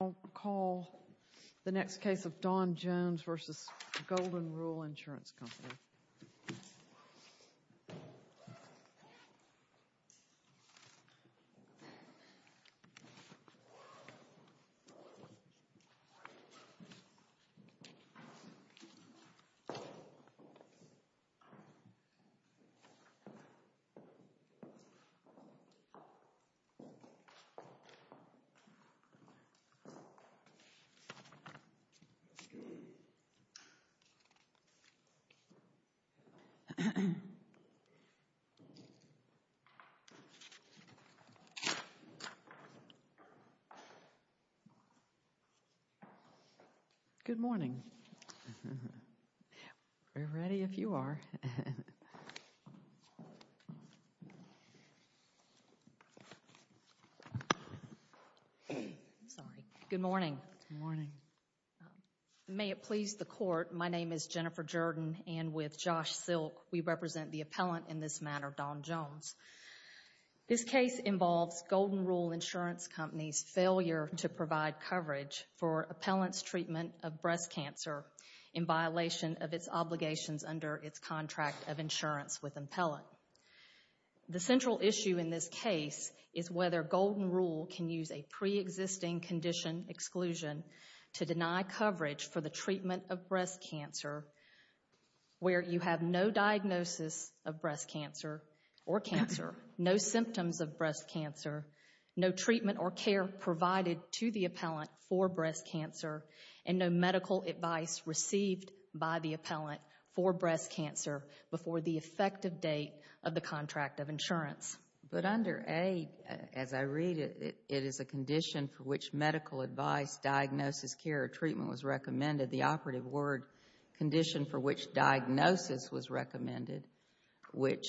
I'll call the next case of Don Jones versus Golden Rule Insurance Company. Good morning. We're ready if you are. Good morning. May it please the court, my name is Jennifer Jordan and with Josh Silk, we represent the appellant in this matter, Don Jones. This case involves Golden Rule Insurance Company's failure to provide coverage for appellant's treatment of breast cancer in violation of its obligations under its contract of insurance with appellant. The central issue in this case is whether Golden Rule can use a pre-existing condition exclusion to deny coverage for the treatment of breast cancer where you have no diagnosis of breast cancer or cancer, no symptoms of breast cancer, no treatment or care provided to the appellant for breast cancer, and no medical advice received by the appellant for breast cancer before the effective date of the contract of insurance. But under A, as I read it, it is a condition for which medical advice, diagnosis, care, or treatment was recommended. The operative word condition for which diagnosis was recommended, which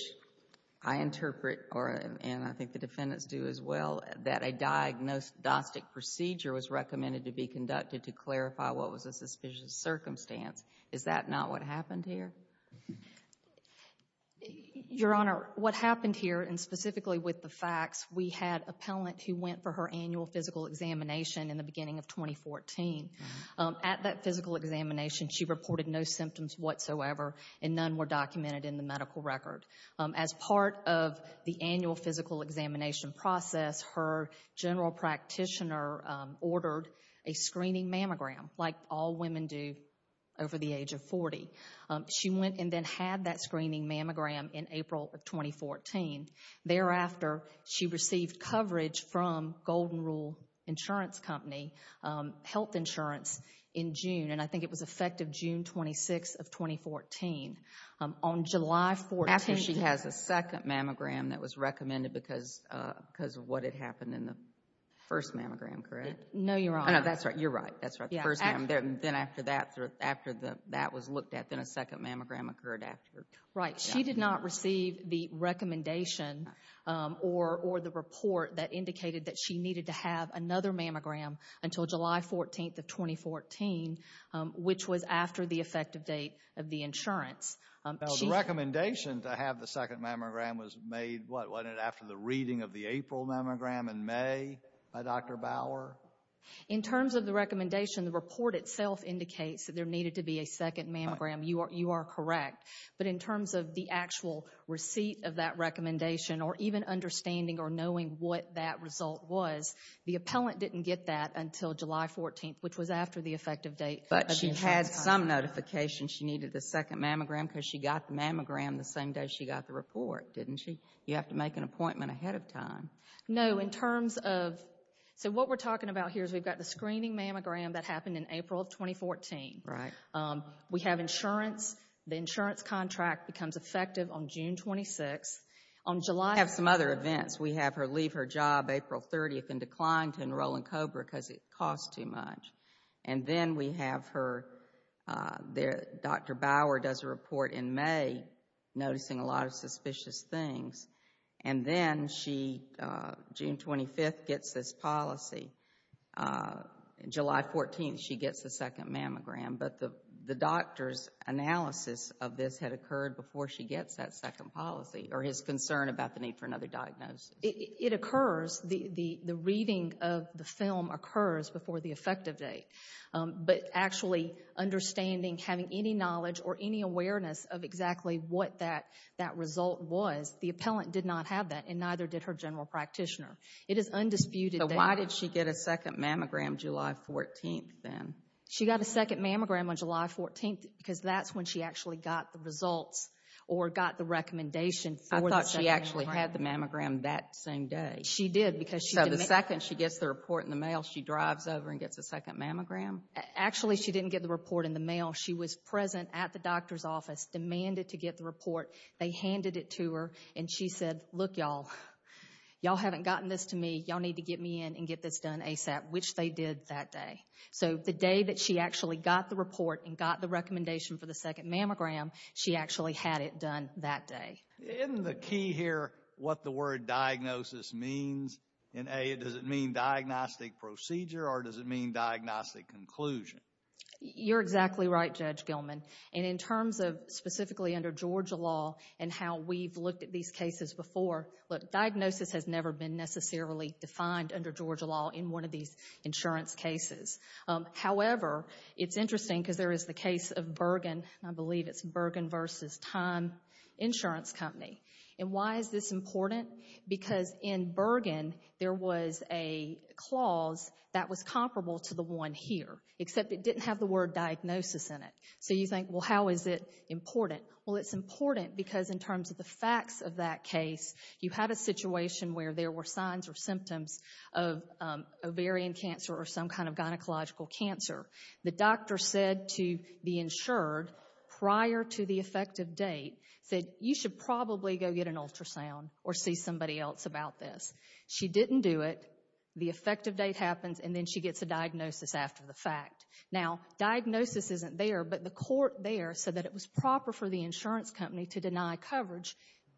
I interpret, and I think the defendants do as well, that a diagnostic procedure was recommended to be conducted to clarify what was a suspicious circumstance. Is that not what happened here? Your Honor, what happened here, and specifically with the facts, we had appellant who went for her annual physical examination in the beginning of 2014. At that physical examination, she reported no symptoms whatsoever and none were documented in the medical record. As part of the annual physical examination process, her general practitioner ordered a screening mammogram like all women do over the age of 40. She went and then had that screening mammogram in April of 2014. Thereafter, she received coverage from Golden Rule Insurance Company Health Insurance in June, and I think it was effective June 26th of 2014. On July 14th... After she has a second mammogram that was recommended because of what had happened in the first mammogram, correct? No, Your Honor. No, that's right. You're right. That's right. The first mammogram. Then after that was looked at, then a second mammogram occurred after. Right. She did not receive the recommendation or the report that indicated that she needed to have another mammogram until July 14th of 2014, which was after the effective date of the insurance. Now, the recommendation to have the second mammogram was made, what, wasn't it after the reading of the April mammogram in May by Dr. Bauer? In terms of the recommendation, the report itself indicates that there needed to be a second mammogram. You are correct. But in terms of the actual receipt of that recommendation or even understanding or knowing what that result was, the appellant didn't get that until July 14th, which was after the effective date of the insurance. But she had some notification she needed a second mammogram because she got the mammogram the same day she got the report, didn't she? You have to make an appointment ahead of time. No, in terms of, so what we're talking about here is we've got the screening mammogram that happened in April of 2014. Right. We have insurance. The insurance contract becomes effective on June 26th. On July, we have some other events. We have her leave her job April 30th and decline to enroll in COBRA because it costs too much. And then we have her, Dr. Bauer does a report in May noticing a lot of suspicious things. And then she, June 25th, gets this policy. July 14th, she gets a second mammogram. But the doctor's analysis of this had occurred before she gets that second policy or his concern about the need for another diagnosis. It occurs. The reading of the film occurs before the effective date. But actually understanding, having any knowledge or any awareness of exactly what that result was, the appellant did not have that and neither did her general practitioner. It is undisputed data. So why did she get a second mammogram July 14th then? She got a second mammogram on July 14th because that's when she actually got the results or got the recommendation for the second mammogram. I thought she actually had the mammogram that same day. She did because she didn't. So the second she gets the report in the mail, she drives over and gets a second mammogram? Actually, she didn't get the report in the mail. She was present at the doctor's office, demanded to get the report. They handed it to her, and she said, Look, y'all, y'all haven't gotten this to me. Y'all need to get me in and get this done ASAP, which they did that day. So the day that she actually got the report and got the recommendation for the second mammogram, she actually had it done that day. Isn't the key here what the word diagnosis means in A, does it mean diagnostic procedure or does it mean diagnostic conclusion? You're exactly right, Judge Gilman. And in terms of specifically under Georgia law and how we've looked at these cases before, look, diagnosis has never been necessarily defined under Georgia law in one of these insurance cases. However, it's interesting because there is the case of Bergen. I believe it's Bergen v. Time Insurance Company. And why is this important? Because in Bergen there was a clause that was comparable to the one here, except it didn't have the word diagnosis in it. So you think, well, how is it important? Well, it's important because in terms of the facts of that case, you had a situation where there were signs or symptoms of ovarian cancer or some kind of gynecological cancer. The doctor said to the insured prior to the effective date, said you should probably go get an ultrasound or see somebody else about this. She didn't do it. The effective date happens, and then she gets a diagnosis after the fact. Now, diagnosis isn't there, but the court there said that it was proper for the insurance company to deny coverage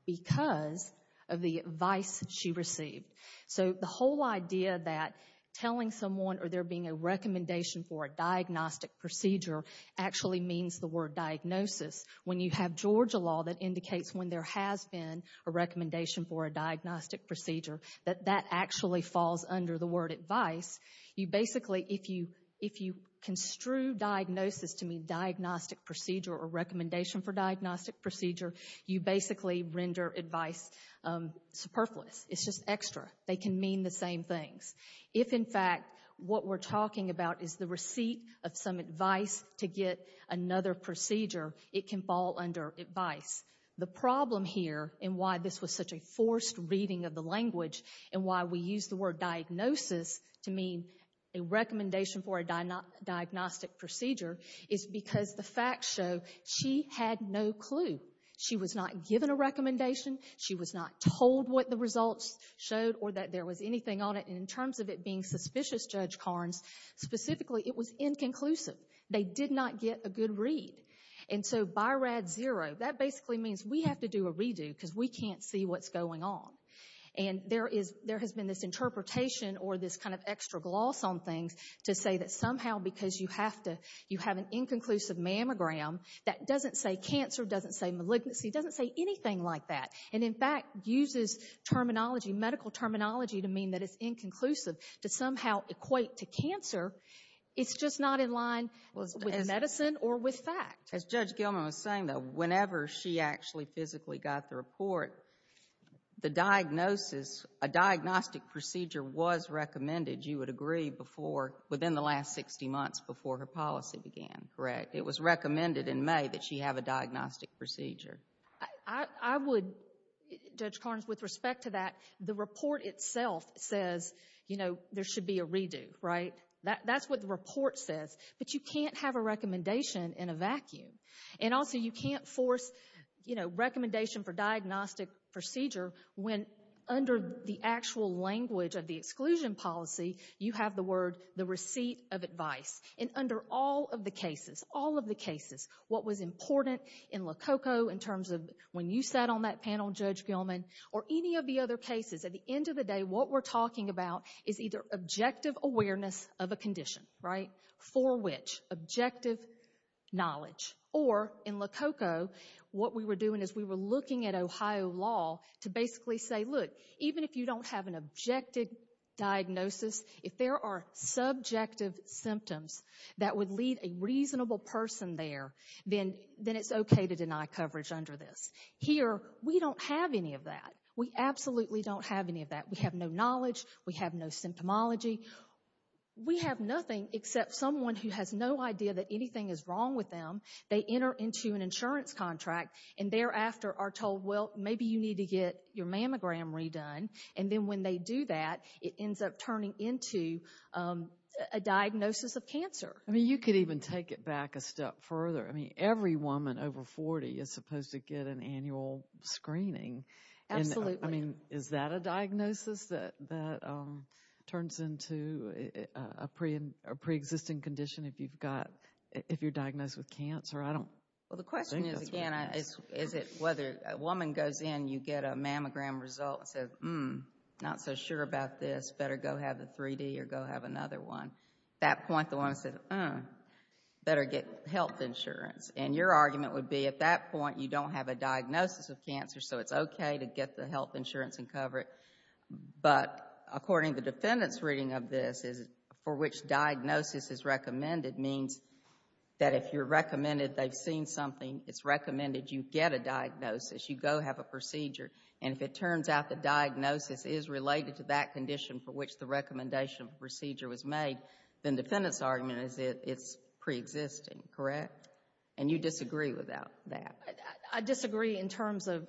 because of the advice she received. So the whole idea that telling someone or there being a recommendation for a diagnostic procedure actually means the word diagnosis, when you have Georgia law that indicates when there has been a recommendation for a diagnostic procedure, that that actually falls under the word advice. You basically, if you construe diagnosis to mean diagnostic procedure or recommendation for diagnostic procedure, you basically render advice superfluous. It's just extra. They can mean the same things. If, in fact, what we're talking about is the receipt of some advice to get another procedure, it can fall under advice. The problem here in why this was such a forced reading of the language and why we use the word diagnosis to mean a recommendation for a diagnostic procedure is because the facts show she had no clue. She was not given a recommendation. She was not told what the results showed or that there was anything on it. And in terms of it being suspicious, Judge Carnes, specifically, it was inconclusive. They did not get a good read. And so BYRAD 0, that basically means we have to do a redo because we can't see what's going on. And there has been this interpretation or this kind of extra gloss on things to say that somehow because you have an inconclusive mammogram that doesn't say cancer, doesn't say malignancy, doesn't say anything like that and, in fact, uses terminology, medical terminology, to mean that it's inconclusive to somehow equate to cancer. It's just not in line with medicine or with fact. As Judge Gilman was saying, though, the diagnosis, a diagnostic procedure was recommended, you would agree, within the last 60 months before her policy began, correct? It was recommended in May that she have a diagnostic procedure. I would, Judge Carnes, with respect to that, the report itself says there should be a redo, right? That's what the report says. But you can't have a recommendation in a vacuum. And also you can't force, you know, recommendation for diagnostic procedure when under the actual language of the exclusion policy, you have the word, the receipt of advice. And under all of the cases, all of the cases, what was important in Lococo in terms of when you sat on that panel, Judge Gilman, or any of the other cases, at the end of the day, what we're talking about is either objective awareness of a condition, right, for which objective knowledge. Or in Lococo, what we were doing is we were looking at Ohio law to basically say, look, even if you don't have an objective diagnosis, if there are subjective symptoms that would lead a reasonable person there, then it's okay to deny coverage under this. Here, we don't have any of that. We absolutely don't have any of that. We have no knowledge. We have no symptomology. We have nothing except someone who has no idea that anything is wrong with them. They enter into an insurance contract and thereafter are told, well, maybe you need to get your mammogram redone. And then when they do that, it ends up turning into a diagnosis of cancer. I mean, you could even take it back a step further. I mean, every woman over 40 is supposed to get an annual screening. Absolutely. I mean, is that a diagnosis that turns into a preexisting condition if you're diagnosed with cancer? Well, the question is, again, is it whether a woman goes in, you get a mammogram result and says, hmm, not so sure about this, better go have the 3D or go have another one. At that point, the woman says, hmm, better get health insurance. And your argument would be at that point you don't have a diagnosis of cancer, so it's okay to get the health insurance and cover it. But according to the defendant's reading of this, for which diagnosis is recommended means that if you're recommended, they've seen something, it's recommended you get a diagnosis, you go have a procedure. And if it turns out the diagnosis is related to that condition for which the recommendation of the procedure was made, then the defendant's argument is it's preexisting, correct? And you disagree with that. I disagree in terms of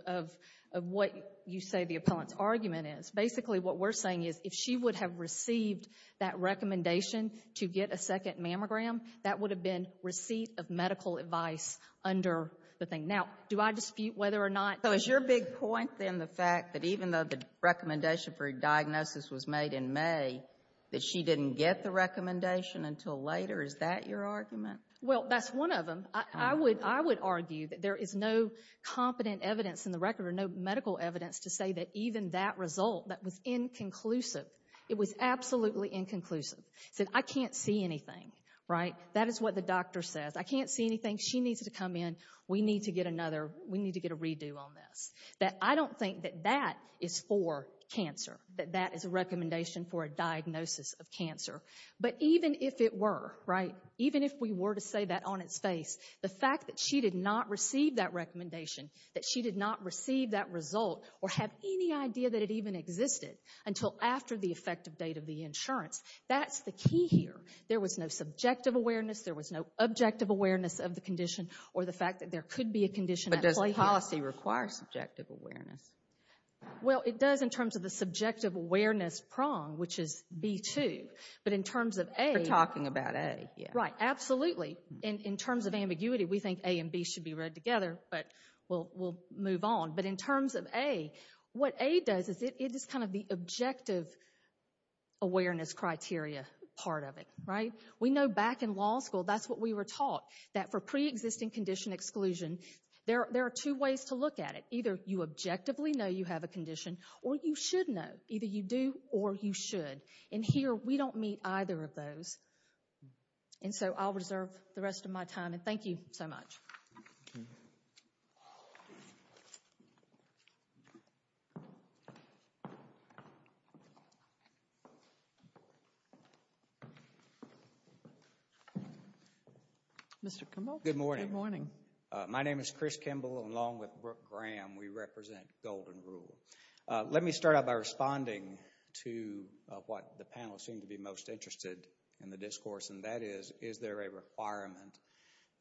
what you say the appellant's argument is. Basically what we're saying is if she would have received that recommendation to get a second mammogram, that would have been receipt of medical advice under the thing. Now, do I dispute whether or not... So is your big point then the fact that even though the recommendation for a diagnosis was made in May, that she didn't get the recommendation until later, is that your argument? Well, that's one of them. I would argue that there is no competent evidence in the record or no medical evidence to say that even that result, that was inconclusive. It was absolutely inconclusive. It said, I can't see anything, right? That is what the doctor says. I can't see anything. She needs to come in. We need to get a redo on this. I don't think that that is for cancer, that that is a recommendation for a diagnosis of cancer. But even if it were, right, even if we were to say that on its face, the fact that she did not receive that recommendation, that she did not receive that result or have any idea that it even existed until after the effective date of the insurance, that's the key here. There was no subjective awareness. There was no objective awareness of the condition or the fact that there could be a condition at play here. But does policy require subjective awareness? Well, it does in terms of the subjective awareness prong, which is B2. But in terms of A. You're talking about A. Right. Absolutely. In terms of ambiguity, we think A and B should be read together. But we'll move on. But in terms of A, what A does is it is kind of the objective awareness criteria part of it, right? We know back in law school, that's what we were taught, that for preexisting condition exclusion, there are two ways to look at it. Either you objectively know you have a condition, or you should know. Either you do or you should. And here, we don't meet either of those. And so I'll reserve the rest of my time. And thank you so much. Mr. Kimball. Good morning. My name is Chris Kimball, along with Brooke Graham. We represent Golden Rule. Let me start out by responding to what the panel seem to be most interested in the discourse. And that is, is there a requirement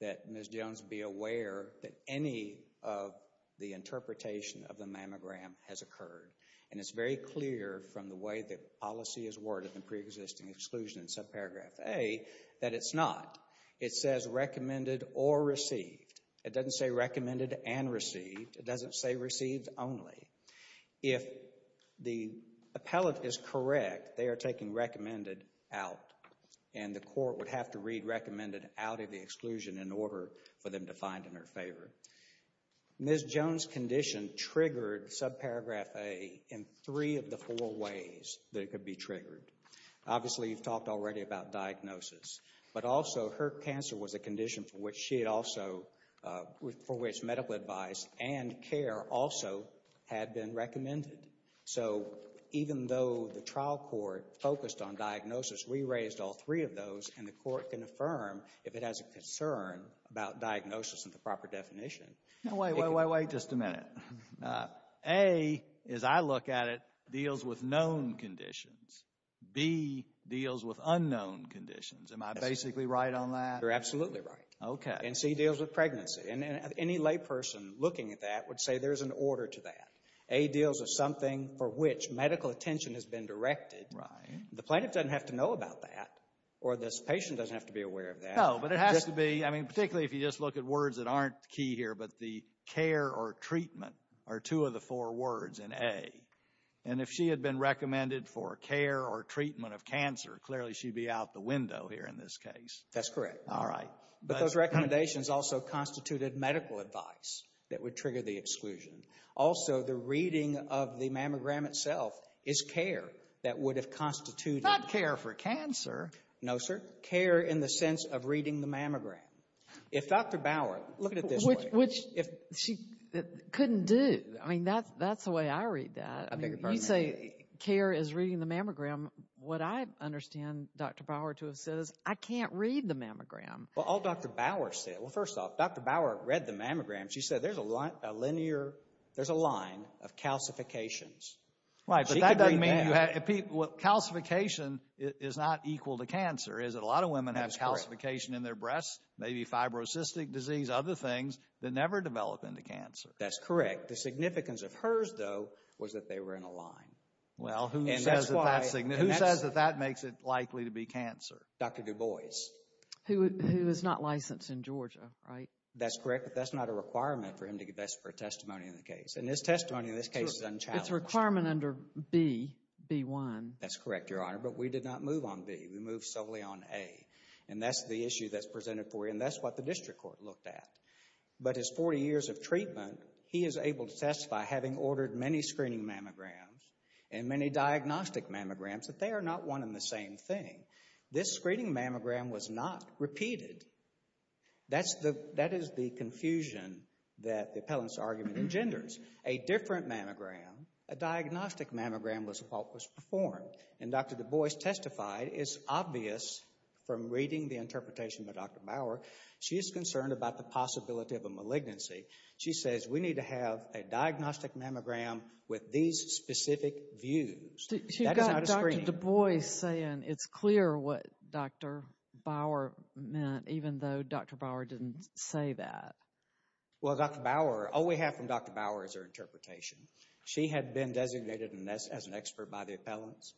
that Ms. Jones be aware that any of the interpretation of the mammogram has occurred? And it's very clear from the way that policy is worded in preexisting exclusion in subparagraph A, that it's not. It says recommended or received. It doesn't say recommended and received. It doesn't say received only. If the appellate is correct, they are taking recommended out. And the court would have to read recommended out of the exclusion in order for them to find it in her favor. Ms. Jones' condition triggered subparagraph A in three of the four ways that it could be triggered. Obviously, you've talked already about diagnosis. But also, her cancer was a condition for which she had also, for which medical advice and care also had been recommended. So, even though the trial court focused on diagnosis, we raised all three of those, and the court can affirm if it has a concern about diagnosis and the proper definition. Wait, wait, wait, wait, just a minute. A, as I look at it, deals with known conditions. B, deals with unknown conditions. Am I basically right on that? You're absolutely right. Okay. And C, deals with pregnancy. And any layperson looking at that would say there's an order to that. A deals with something for which medical attention has been directed. Right. The plaintiff doesn't have to know about that, or this patient doesn't have to be aware of that. No, but it has to be, I mean, particularly if you just look at words that aren't key here, but the care or treatment are two of the four words in A. And if she had been recommended for care or treatment of cancer, clearly she'd be out the window here in this case. That's correct. All right. But those recommendations also constituted medical advice that would trigger the exclusion. Also, the reading of the mammogram itself is care that would have constituted. Not care for cancer. No, sir. Care in the sense of reading the mammogram. If Dr. Bauer, look at it this way. Which she couldn't do. I mean, that's the way I read that. You say care is reading the mammogram. What I understand Dr. Bauer to have said is I can't read the mammogram. Well, all Dr. Bauer said, well, first off, Dr. Bauer read the mammogram. She said there's a line of calcifications. Right, but that doesn't mean you have. Calcification is not equal to cancer, is it? A lot of women have calcification in their breasts, maybe fibrocystic disease, other things that never develop into cancer. That's correct. The significance of hers, though, was that they were in a line. Well, who says that that makes it likely to be cancer? Dr. Du Bois. Who is not licensed in Georgia, right? That's correct, but that's not a requirement for him to give testimony in the case. And his testimony in this case is unchallenged. It's a requirement under B, B-1. That's correct, Your Honor, but we did not move on B. We moved solely on A. And that's the issue that's presented for you, and that's what the district court looked at. But his 40 years of treatment, he is able to testify, having ordered many screening mammograms and many diagnostic mammograms, that they are not one and the same thing. This screening mammogram was not repeated. That is the confusion that the appellant's argument engenders. A different mammogram, a diagnostic mammogram, was performed. And Dr. Du Bois testified, it's obvious from reading the interpretation of Dr. Bauer, she is concerned about the possibility of a malignancy. She says we need to have a diagnostic mammogram with these specific views. She got Dr. Du Bois saying it's clear what Dr. Bauer meant, even though Dr. Bauer didn't say that. Well, Dr. Bauer, all we have from Dr. Bauer is her interpretation. She had been designated as an expert by the appellants.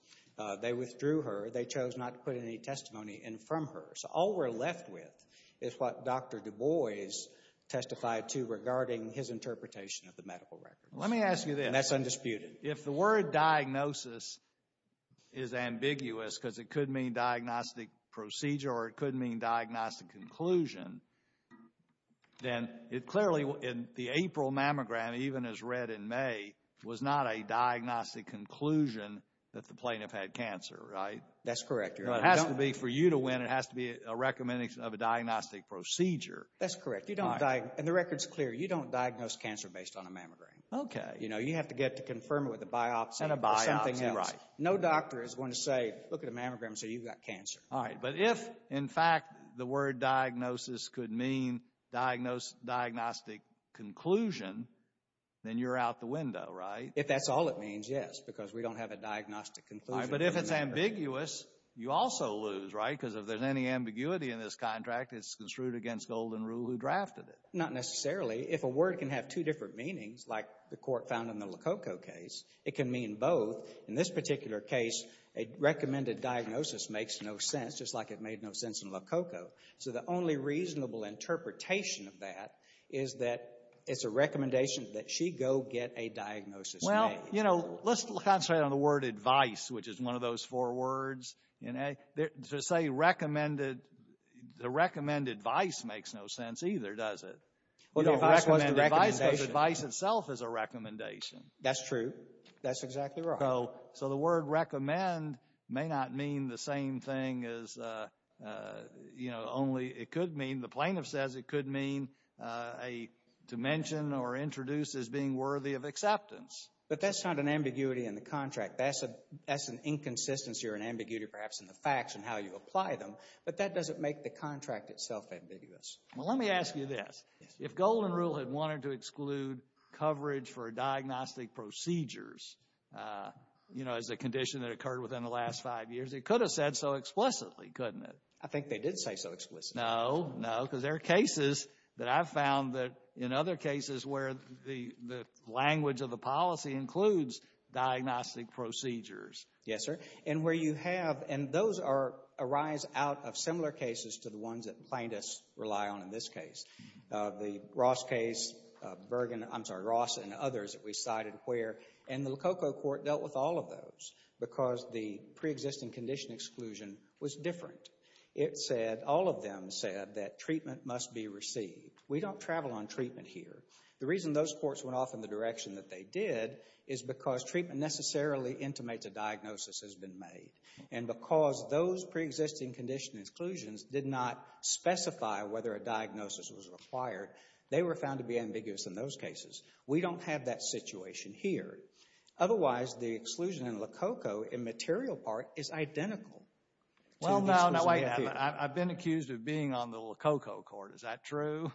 They withdrew her. They chose not to put any testimony in from her. So all we're left with is what Dr. Du Bois testified to regarding his interpretation of the medical records. Let me ask you this. And that's undisputed. If the word diagnosis is ambiguous because it could mean diagnostic procedure or it could mean diagnostic conclusion, then clearly the April mammogram, even as read in May, was not a diagnostic conclusion that the plaintiff had cancer, right? That's correct, Your Honor. But it has to be for you to win. It has to be a recommendation of a diagnostic procedure. That's correct. And the record's clear. You don't diagnose cancer based on a mammogram. Okay. You know, you have to get to confirm it with a biopsy or something else. No doctor is going to say, look at a mammogram and say you've got cancer. All right. But if, in fact, the word diagnosis could mean diagnostic conclusion, then you're out the window, right? If that's all it means, yes, because we don't have a diagnostic conclusion. But if it's ambiguous, you also lose, right? Because if there's any ambiguity in this contract, it's construed against golden rule who drafted it. Not necessarily. If a word can have two different meanings, like the court found in the LoCocco case, it can mean both. In this particular case, a recommended diagnosis makes no sense, just like it made no sense in LoCocco. So the only reasonable interpretation of that is that it's a recommendation that she go get a diagnosis made. Well, you know, let's concentrate on the word advice, which is one of those four words. To say recommended, the recommend advice makes no sense either, does it? Well, the advice was the recommendation. Because advice itself is a recommendation. That's true. That's exactly right. So the word recommend may not mean the same thing as, you know, only it could mean, and the plaintiff says it could mean to mention or introduce as being worthy of acceptance. But that's not an ambiguity in the contract. That's an inconsistency or an ambiguity perhaps in the facts and how you apply them. But that doesn't make the contract itself ambiguous. Well, let me ask you this. If golden rule had wanted to exclude coverage for diagnostic procedures, you know, as a condition that occurred within the last five years, it could have said so explicitly, couldn't it? I think they did say so explicitly. No, no, because there are cases that I've found that, in other cases, where the language of the policy includes diagnostic procedures. Yes, sir. And where you have, and those arise out of similar cases to the ones that plaintiffs rely on in this case. The Ross case, Bergen, I'm sorry, Ross and others that we cited where, and the LoCocco court dealt with all of those because the preexisting condition exclusion was different. It said, all of them said that treatment must be received. We don't travel on treatment here. The reason those courts went off in the direction that they did is because treatment necessarily intimates a diagnosis has been made. And because those preexisting condition exclusions did not specify whether a diagnosis was required, they were found to be ambiguous in those cases. We don't have that situation here. Otherwise, the exclusion in LoCocco in material part is identical. Well, no, no, wait a minute. I've been accused of being on the LoCocco court. Is that true?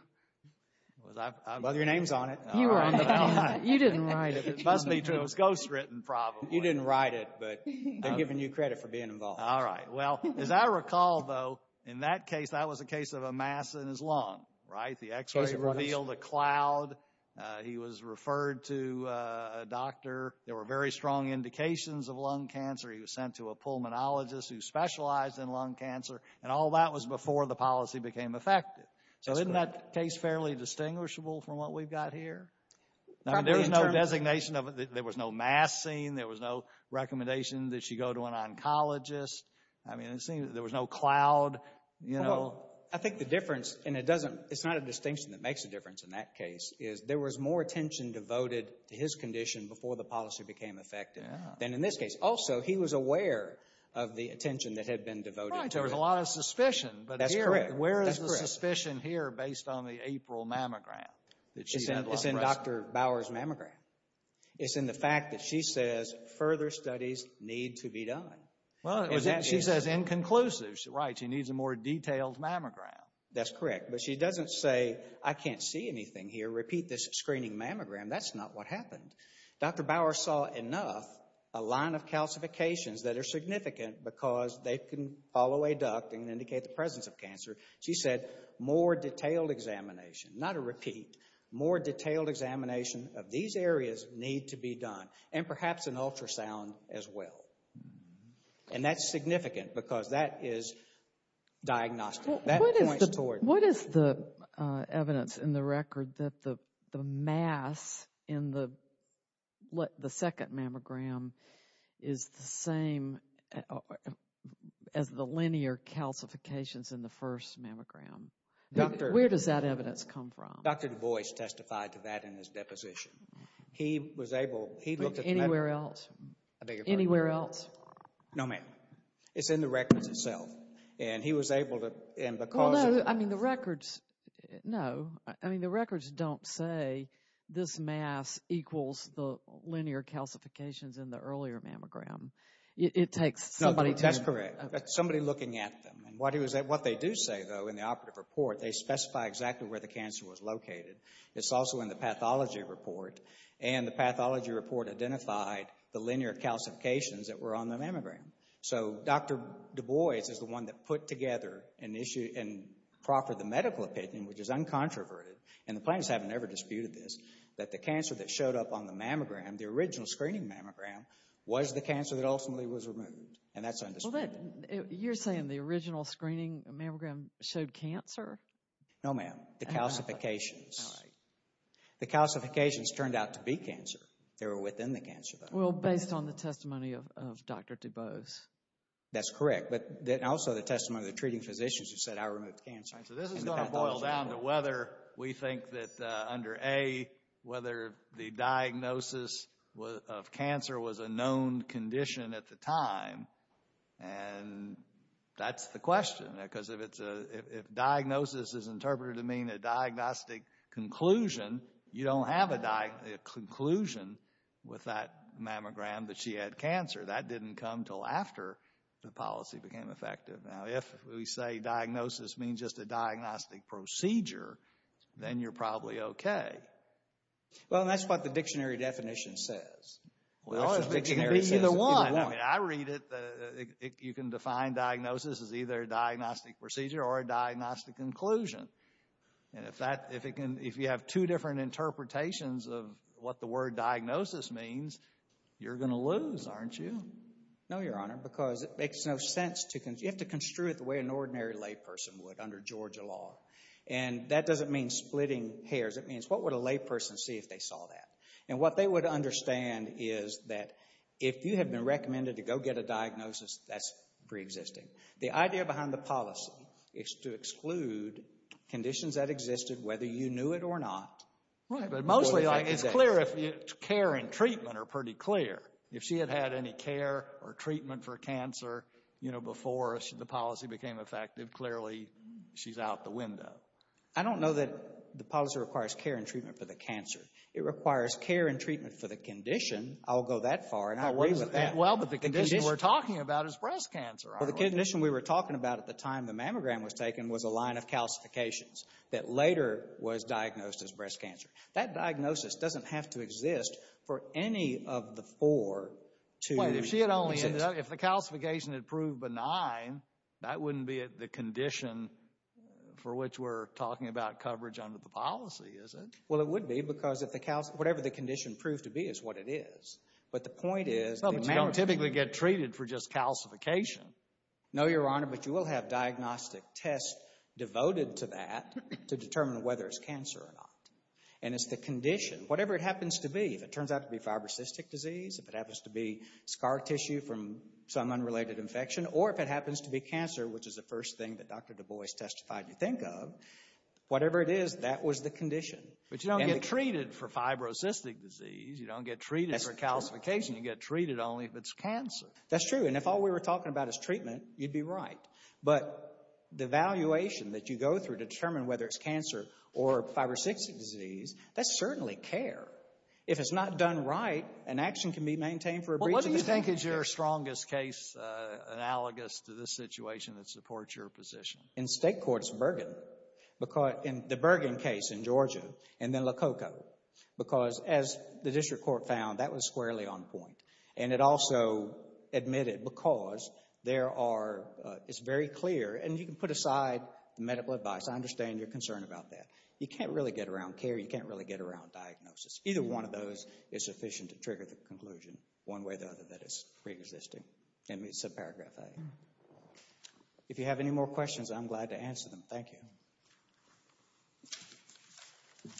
Well, your name's on it. You were on it. You didn't write it. It must be true. It was ghostwritten probably. You didn't write it, but they're giving you credit for being involved. All right. Well, as I recall, though, in that case, that was a case of a mass in his lung, right? The x-ray revealed a cloud. He was referred to a doctor. There were very strong indications of lung cancer. He was sent to a pulmonologist who specialized in lung cancer, and all that was before the policy became effective. So isn't that case fairly distinguishable from what we've got here? There was no designation of it. There was no mass seen. There was no recommendation that you go to an oncologist. I mean, there was no cloud, you know. I think the difference, and it's not a distinction that makes a difference in that case, is there was more attention devoted to his condition before the policy became effective than in this case. Also, he was aware of the attention that had been devoted to it. Right. There was a lot of suspicion. That's correct. But where is the suspicion here based on the April mammogram? It's in Dr. Bower's mammogram. It's in the fact that she says further studies need to be done. Well, she says inconclusive. Right. She needs a more detailed mammogram. That's correct. But she doesn't say, I can't see anything here. Repeat this screening mammogram. That's not what happened. Dr. Bower saw enough, a line of calcifications that are significant because they can follow a duct and indicate the presence of cancer. She said more detailed examination. Not a repeat. More detailed examination of these areas need to be done. And perhaps an ultrasound as well. And that's significant because that is diagnostic. What is the evidence in the record that the mass in the second mammogram is the same as the linear calcifications in the first mammogram? Where does that evidence come from? Dr. DuBois testified to that in his deposition. He was able, he looked at the map. Anywhere else? Anywhere else? No, ma'am. It's in the record itself. And he was able to, and because of the... Well, no, I mean, the records, no. I mean, the records don't say this mass equals the linear calcifications in the earlier mammogram. It takes somebody to... No, that's correct. Somebody looking at them. What they do say, though, in the operative report, they specify exactly where the cancer was located. It's also in the pathology report. And the pathology report identified the linear calcifications that were on the mammogram. So Dr. DuBois is the one that put together and proffered the medical opinion, which is uncontroverted, and the plaintiffs haven't ever disputed this, that the cancer that showed up on the mammogram, the original screening mammogram, was the cancer that ultimately was removed. And that's undisputed. You're saying the original screening mammogram showed cancer? No, ma'am. The calcifications. The calcifications turned out to be cancer. They were within the cancer, though. Well, based on the testimony of Dr. DuBois. That's correct. But also the testimony of the treating physicians who said, I removed cancer. So this is going to boil down to whether we think that under A, whether the diagnosis of cancer was a known condition at the time. And that's the question. Because if diagnosis is interpreted to mean a diagnostic conclusion, you don't have a conclusion with that mammogram that she had cancer. That didn't come until after the policy became effective. Now, if we say diagnosis means just a diagnostic procedure, then you're probably okay. Well, and that's what the dictionary definition says. It can be either one. I read it. You can define diagnosis as either a diagnostic procedure or a diagnostic conclusion. And if you have two different interpretations of what the word diagnosis means, you're going to lose, aren't you? No, Your Honor, because it makes no sense. You have to construe it the way an ordinary layperson would under Georgia law. And that doesn't mean splitting hairs. It means what would a layperson see if they saw that? And what they would understand is that if you have been recommended to go get a diagnosis, that's preexisting. The idea behind the policy is to exclude conditions that existed, whether you knew it or not. Right, but mostly it's clear if care and treatment are pretty clear. If she had had any care or treatment for cancer, you know, before the policy became effective, clearly she's out the window. I don't know that the policy requires care and treatment for the cancer. It requires care and treatment for the condition. I'll go that far, and I agree with that. Well, but the condition we're talking about is breast cancer. The condition we were talking about at the time the mammogram was taken was a line of calcifications that later was diagnosed as breast cancer. That diagnosis doesn't have to exist for any of the four to exist. If the calcification had proved benign, that wouldn't be the condition for which we're talking about coverage under the policy, is it? Well, it would be because whatever the condition proved to be is what it is. But the point is the mammogram... But you don't typically get treated for just calcification. No, Your Honor, but you will have diagnostic tests devoted to that to determine whether it's cancer or not. And it's the condition, whatever it happens to be, if it turns out to be fibrocystic disease, if it happens to be scar tissue from some unrelated infection, or if it happens to be cancer, which is the first thing that Dr. DuBois testified you think of, whatever it is, that was the condition. But you don't get treated for fibrocystic disease. You don't get treated for calcification. You get treated only if it's cancer. That's true, and if all we were talking about is treatment, you'd be right. But the evaluation that you go through to determine whether it's cancer or fibrocystic disease, that's certainly care. If it's not done right, an action can be maintained for a brief... Well, what do you think is your strongest case analogous to this situation that supports your position? In state courts, Bergen. In the Bergen case in Georgia, and then Lococo. Because, as the district court found, that was squarely on point. And it also admitted, because there are... It's very clear, and you can put aside the medical advice. I understand your concern about that. You can't really get around care. You can't really get around diagnosis. Either one of those is sufficient to trigger the conclusion, one way or the other, that it's preexisting. And it's subparagraph A. If you have any more questions, I'm glad to answer them. Thank you. Thank you.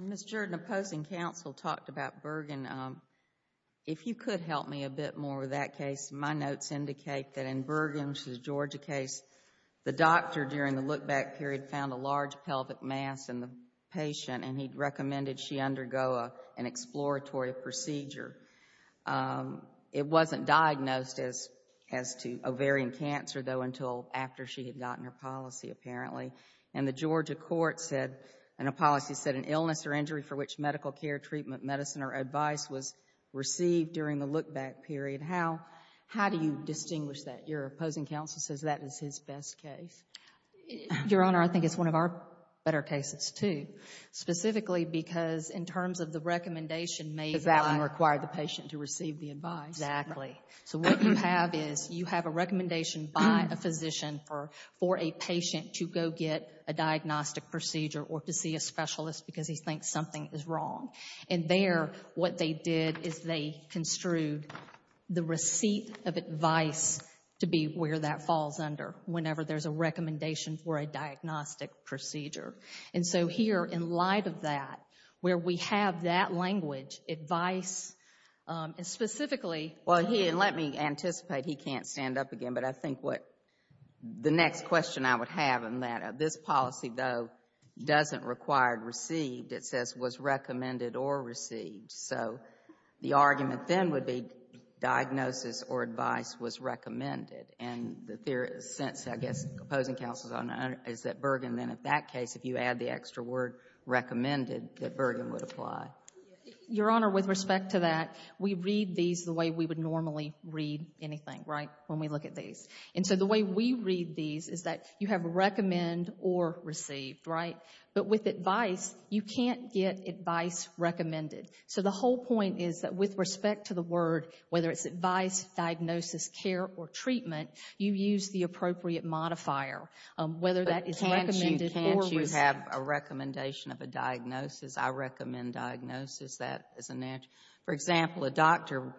Ms. Jordan, opposing counsel talked about Bergen. If you could help me a bit more with that case, my notes indicate that in Bergen's Georgia case, the doctor, during the look-back period, found a large pelvic mass in the patient, and he recommended she undergo an exploratory procedure. It wasn't diagnosed as to ovarian cancer, though, until after she had gotten her policy, apparently. And the Georgia court said, in a policy, said, an illness or injury for which medical care, treatment, medicine, or advice was received during the look-back period. How do you distinguish that? Your opposing counsel says that is his best case. Your Honor, I think it's one of our better cases, too. Specifically because, in terms of the recommendation made by... Because that one required the patient to receive the advice. Exactly. So what you have is you have a recommendation by a physician for a patient to go get a diagnostic procedure or to see a specialist because he thinks something is wrong. And there, what they did is they construed the receipt of advice to be where that falls under whenever there's a recommendation for a diagnostic procedure. And so here, in light of that, where we have that language, advice, and specifically... Well, he didn't let me anticipate. He can't stand up again. But I think what the next question I would have in that, this policy, though, doesn't require received. It says was recommended or received. So the argument then would be diagnosis or advice was recommended. And the theory, in a sense, I guess, opposing counsel's honor is that Bergen then, in that case, if you add the extra word recommended, that Bergen would apply. Your Honor, with respect to that, we read these the way we would normally read anything, right, when we look at these. And so the way we read these is that you have recommend or received, right? But with advice, you can't get advice recommended. So the whole point is that, with respect to the word, whether it's advice, diagnosis, care, or treatment, you use the appropriate modifier. Whether that is recommended or received. But can't you have a recommendation of a diagnosis? I recommend diagnosis. That is an answer. For example, a doctor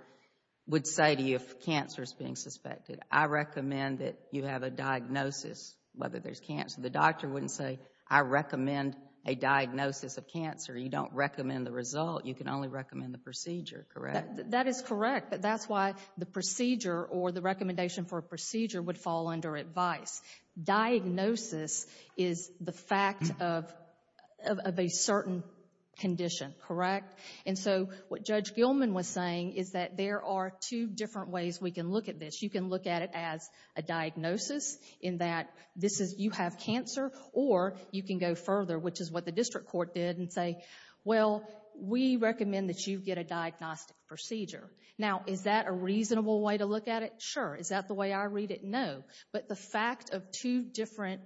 would say to you if cancer is being suspected, I recommend that you have a diagnosis whether there's cancer. The doctor wouldn't say, I recommend a diagnosis of cancer. You don't recommend the result. You can only recommend the procedure, correct? That is correct. But that's why the procedure or the recommendation for a procedure would fall under advice. Diagnosis is the fact of a certain condition, correct? And so what Judge Gilman was saying is that there are two different ways we can look at this. You can look at it as a diagnosis in that you have cancer, or you can go further, which is what the district court did, and say, well, we recommend that you get a diagnostic procedure. Now, is that a reasonable way to look at it? Sure. Is that the way I read it? No. But the fact of two different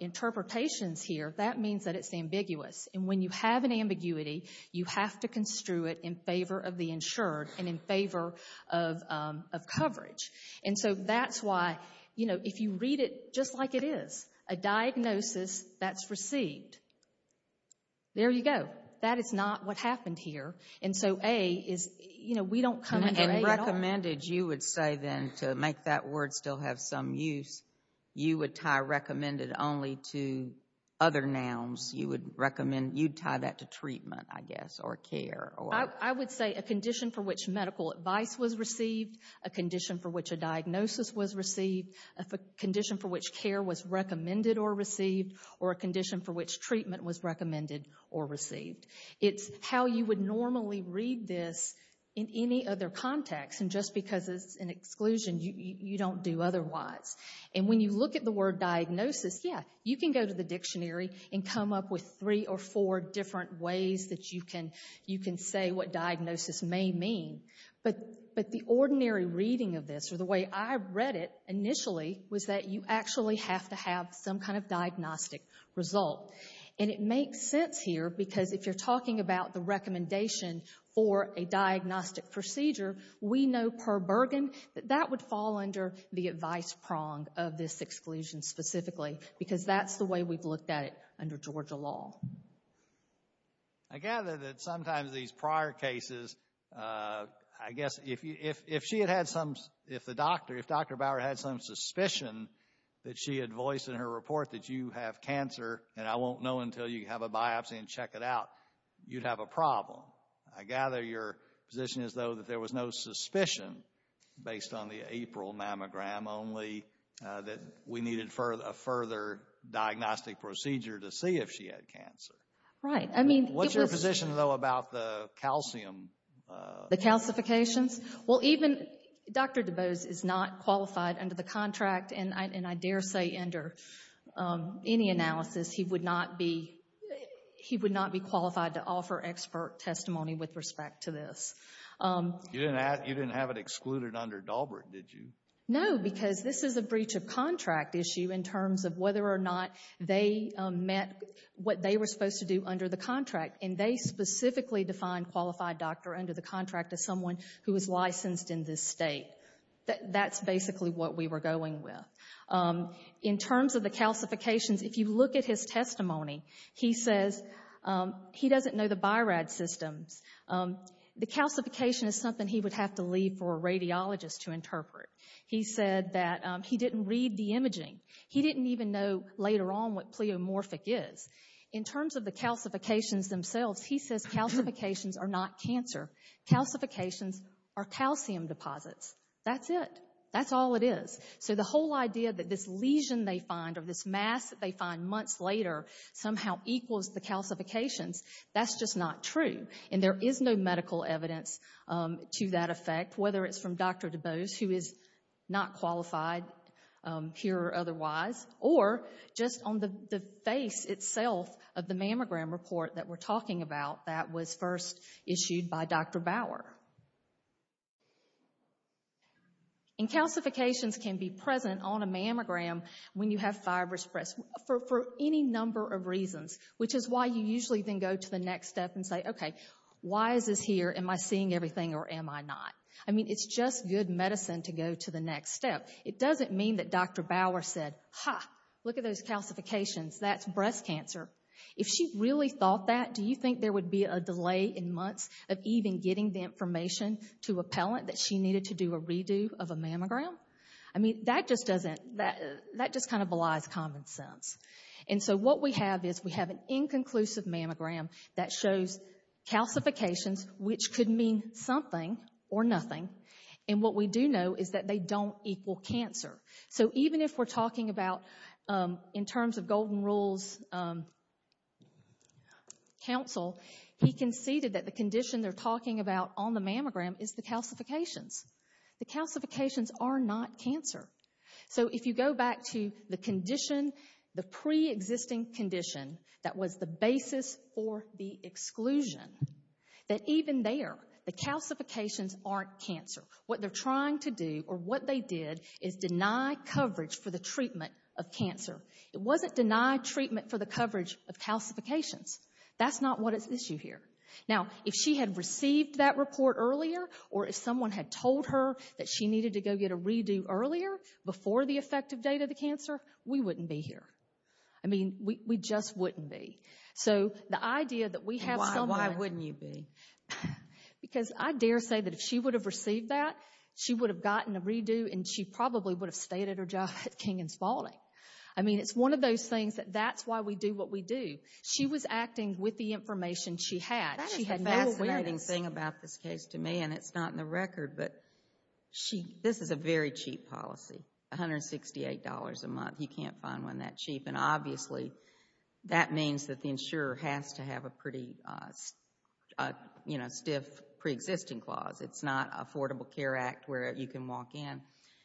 interpretations here, that means that it's ambiguous. And when you have an ambiguity, you have to construe it in favor of the insured and in favor of coverage. And so that's why, you know, if you read it just like it is, a diagnosis that's received, there you go. That is not what happened here. And so A is, you know, we don't come under A at all. Recommended, you would say then, to make that word still have some use, you would tie recommended only to other nouns. You would tie that to treatment, I guess, or care. I would say a condition for which medical advice was received, a condition for which a diagnosis was received, a condition for which care was recommended or received, or a condition for which treatment was recommended or received. It's how you would normally read this in any other context. And just because it's an exclusion, you don't do otherwise. And when you look at the word diagnosis, yeah, you can go to the dictionary and come up with three or four different ways that you can say what diagnosis may mean. But the ordinary reading of this, or the way I read it initially, was that you actually have to have some kind of diagnostic result. And it makes sense here, because if you're talking about the recommendation for a diagnostic procedure, we know per Bergen that that would fall under the advice prong of this exclusion specifically, because that's the way we've looked at it under Georgia law. I gather that sometimes these prior cases, I guess if she had had some, if the doctor, if Dr. Bauer had some suspicion that she had voiced in her report that you have cancer, and I won't know until you have a biopsy and check it out, you'd have a problem. I gather your position is, though, that there was no suspicion, based on the April mammogram, only that we needed a further diagnostic procedure to see if she had cancer. Right. I mean, it was... What's your position, though, about the calcium... The calcifications? Well, even Dr. DuBose is not qualified under the contract, and I dare say under any analysis, he would not be qualified to offer expert testimony with respect to this. You didn't have it excluded under Dalbert, did you? No, because this is a breach of contract issue in terms of whether or not they met what they were supposed to do under the contract, and they specifically defined qualified doctor under the contract as someone who is licensed in this state. That's basically what we were going with. In terms of the calcifications, if you look at his testimony, he says he doesn't know the BIRAD systems. The calcification is something he would have to leave for a radiologist to interpret. He said that he didn't read the imaging. He didn't even know later on what pleomorphic is. In terms of the calcifications themselves, he says calcifications are not cancer. Calcifications are calcium deposits. That's it. That's all it is. So the whole idea that this lesion they find or this mass that they find months later somehow equals the calcifications, that's just not true. And there is no medical evidence to that effect, whether it's from Dr. DuBose, who is not qualified here or otherwise, or just on the face itself of the mammogram report that we're talking about that was first issued by Dr. Bauer. And calcifications can be present on a mammogram when you have fibrous breasts for any number of reasons, which is why you usually then go to the next step and say, okay, why is this here? Am I seeing everything or am I not? I mean, it's just good medicine to go to the next step. It doesn't mean that Dr. Bauer said, ha, look at those calcifications, that's breast cancer. If she really thought that, do you think there would be a delay in months of even getting the information to a palate that she needed to do a redo of a mammogram? I mean, that just kind of belies common sense. And so what we have is we have an inconclusive mammogram that shows calcifications, which could mean something or nothing, and what we do know is that they don't equal cancer. So even if we're talking about, in terms of Golden Rule's counsel, he conceded that the condition they're talking about on the mammogram is the calcifications. The calcifications are not cancer. So if you go back to the condition, the pre-existing condition that was the basis for the exclusion, that even there, the calcifications aren't cancer. What they're trying to do, or what they did, is deny coverage for the treatment of cancer. It wasn't deny treatment for the coverage of calcifications. That's not what is at issue here. Now, if she had received that report earlier, or if someone had told her that she needed to go get a redo earlier, before the effective date of the cancer, we wouldn't be here. I mean, we just wouldn't be. So the idea that we have someone... Why wouldn't you be? Because I dare say that if she would have received that, she would have gotten a redo, and she probably would have stayed at her job at King & Spalding. I mean, it's one of those things that that's why we do what we do. She was acting with the information she had. That is the fascinating thing about this case to me, and it's not in the record, but this is a very cheap policy. $168 a month. You can't find one that cheap. And obviously, that means that the insurer has to have a pretty stiff preexisting clause. It's not an Affordable Care Act where you can walk in.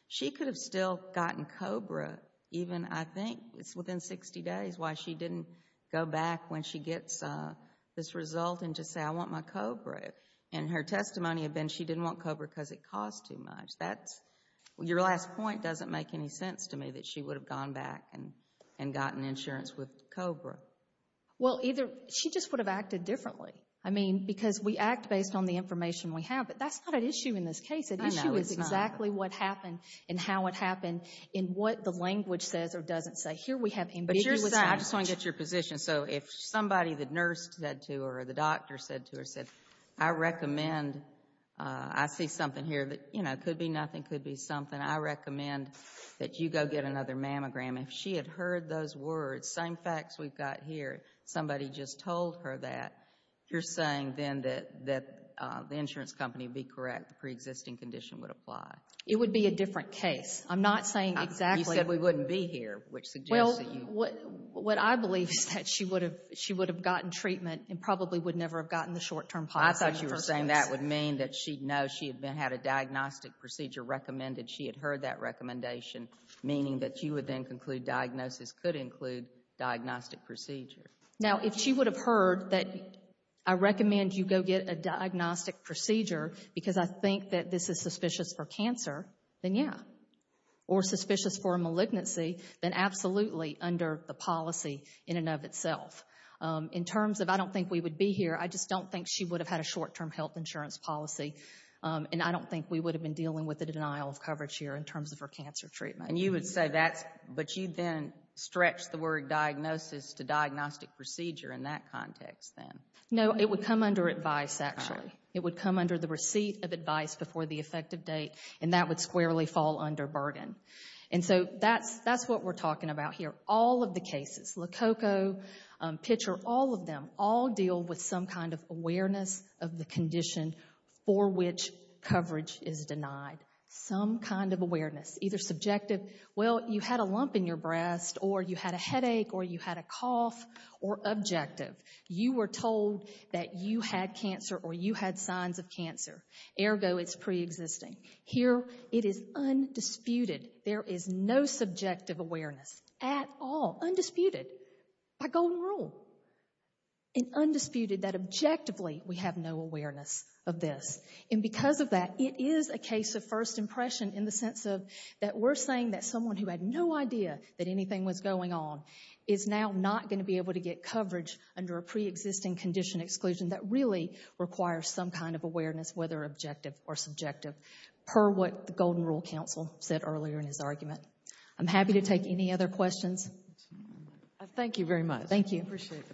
She could have still gotten COBRA even, I think it's within 60 days, why she didn't go back when she gets this result and just say, I want my COBRA. And her testimony had been she didn't want COBRA because it cost too much. Your last point doesn't make any sense to me, that she would have gone back and gotten insurance with COBRA. Well, either she just would have acted differently. I mean, because we act based on the information we have. But that's not an issue in this case. An issue is exactly what happened and how it happened and what the language says or doesn't say. Here we have ambiguous language. I just want to get your position. So if somebody, the nurse said to her or the doctor said to her, said, I recommend, I see something here that could be nothing, could be something. And I recommend that you go get another mammogram. If she had heard those words, same facts we've got here, somebody just told her that, you're saying then that the insurance company be correct, the preexisting condition would apply. It would be a different case. I'm not saying exactly. You said we wouldn't be here, which suggests that you. Well, what I believe is that she would have gotten treatment and probably would never have gotten the short-term policy in the first place. I thought you were saying that would mean that she'd know that she had had a diagnostic procedure recommended. She had heard that recommendation, meaning that you would then conclude diagnosis could include diagnostic procedure. Now, if she would have heard that I recommend you go get a diagnostic procedure because I think that this is suspicious for cancer, then yeah, or suspicious for a malignancy, then absolutely under the policy in and of itself. In terms of I don't think we would be here, I just don't think she would have had a short-term health insurance policy, and I don't think we would have been dealing with the denial of coverage here in terms of her cancer treatment. And you would say that's, but you then stretch the word diagnosis to diagnostic procedure in that context then. No, it would come under advice actually. It would come under the receipt of advice before the effective date, and that would squarely fall under burden. And so that's what we're talking about here. All of the cases, Lococo, Pitcher, all of them, all deal with some kind of awareness of the condition for which coverage is denied. Some kind of awareness, either subjective, well, you had a lump in your breast, or you had a headache, or you had a cough, or objective. You were told that you had cancer or you had signs of cancer. Ergo, it's preexisting. Here, it is undisputed. There is no subjective awareness at all. Undisputed by Golden Rule. And undisputed that objectively we have no awareness of this. And because of that, it is a case of first impression in the sense that we're saying that someone who had no idea that anything was going on is now not going to be able to get coverage under a preexisting condition exclusion that really requires some kind of awareness, whether objective or subjective, per what the Golden Rule counsel said earlier in his argument. I'm happy to take any other questions. Thank you very much. Thank you. Appreciate the presentation.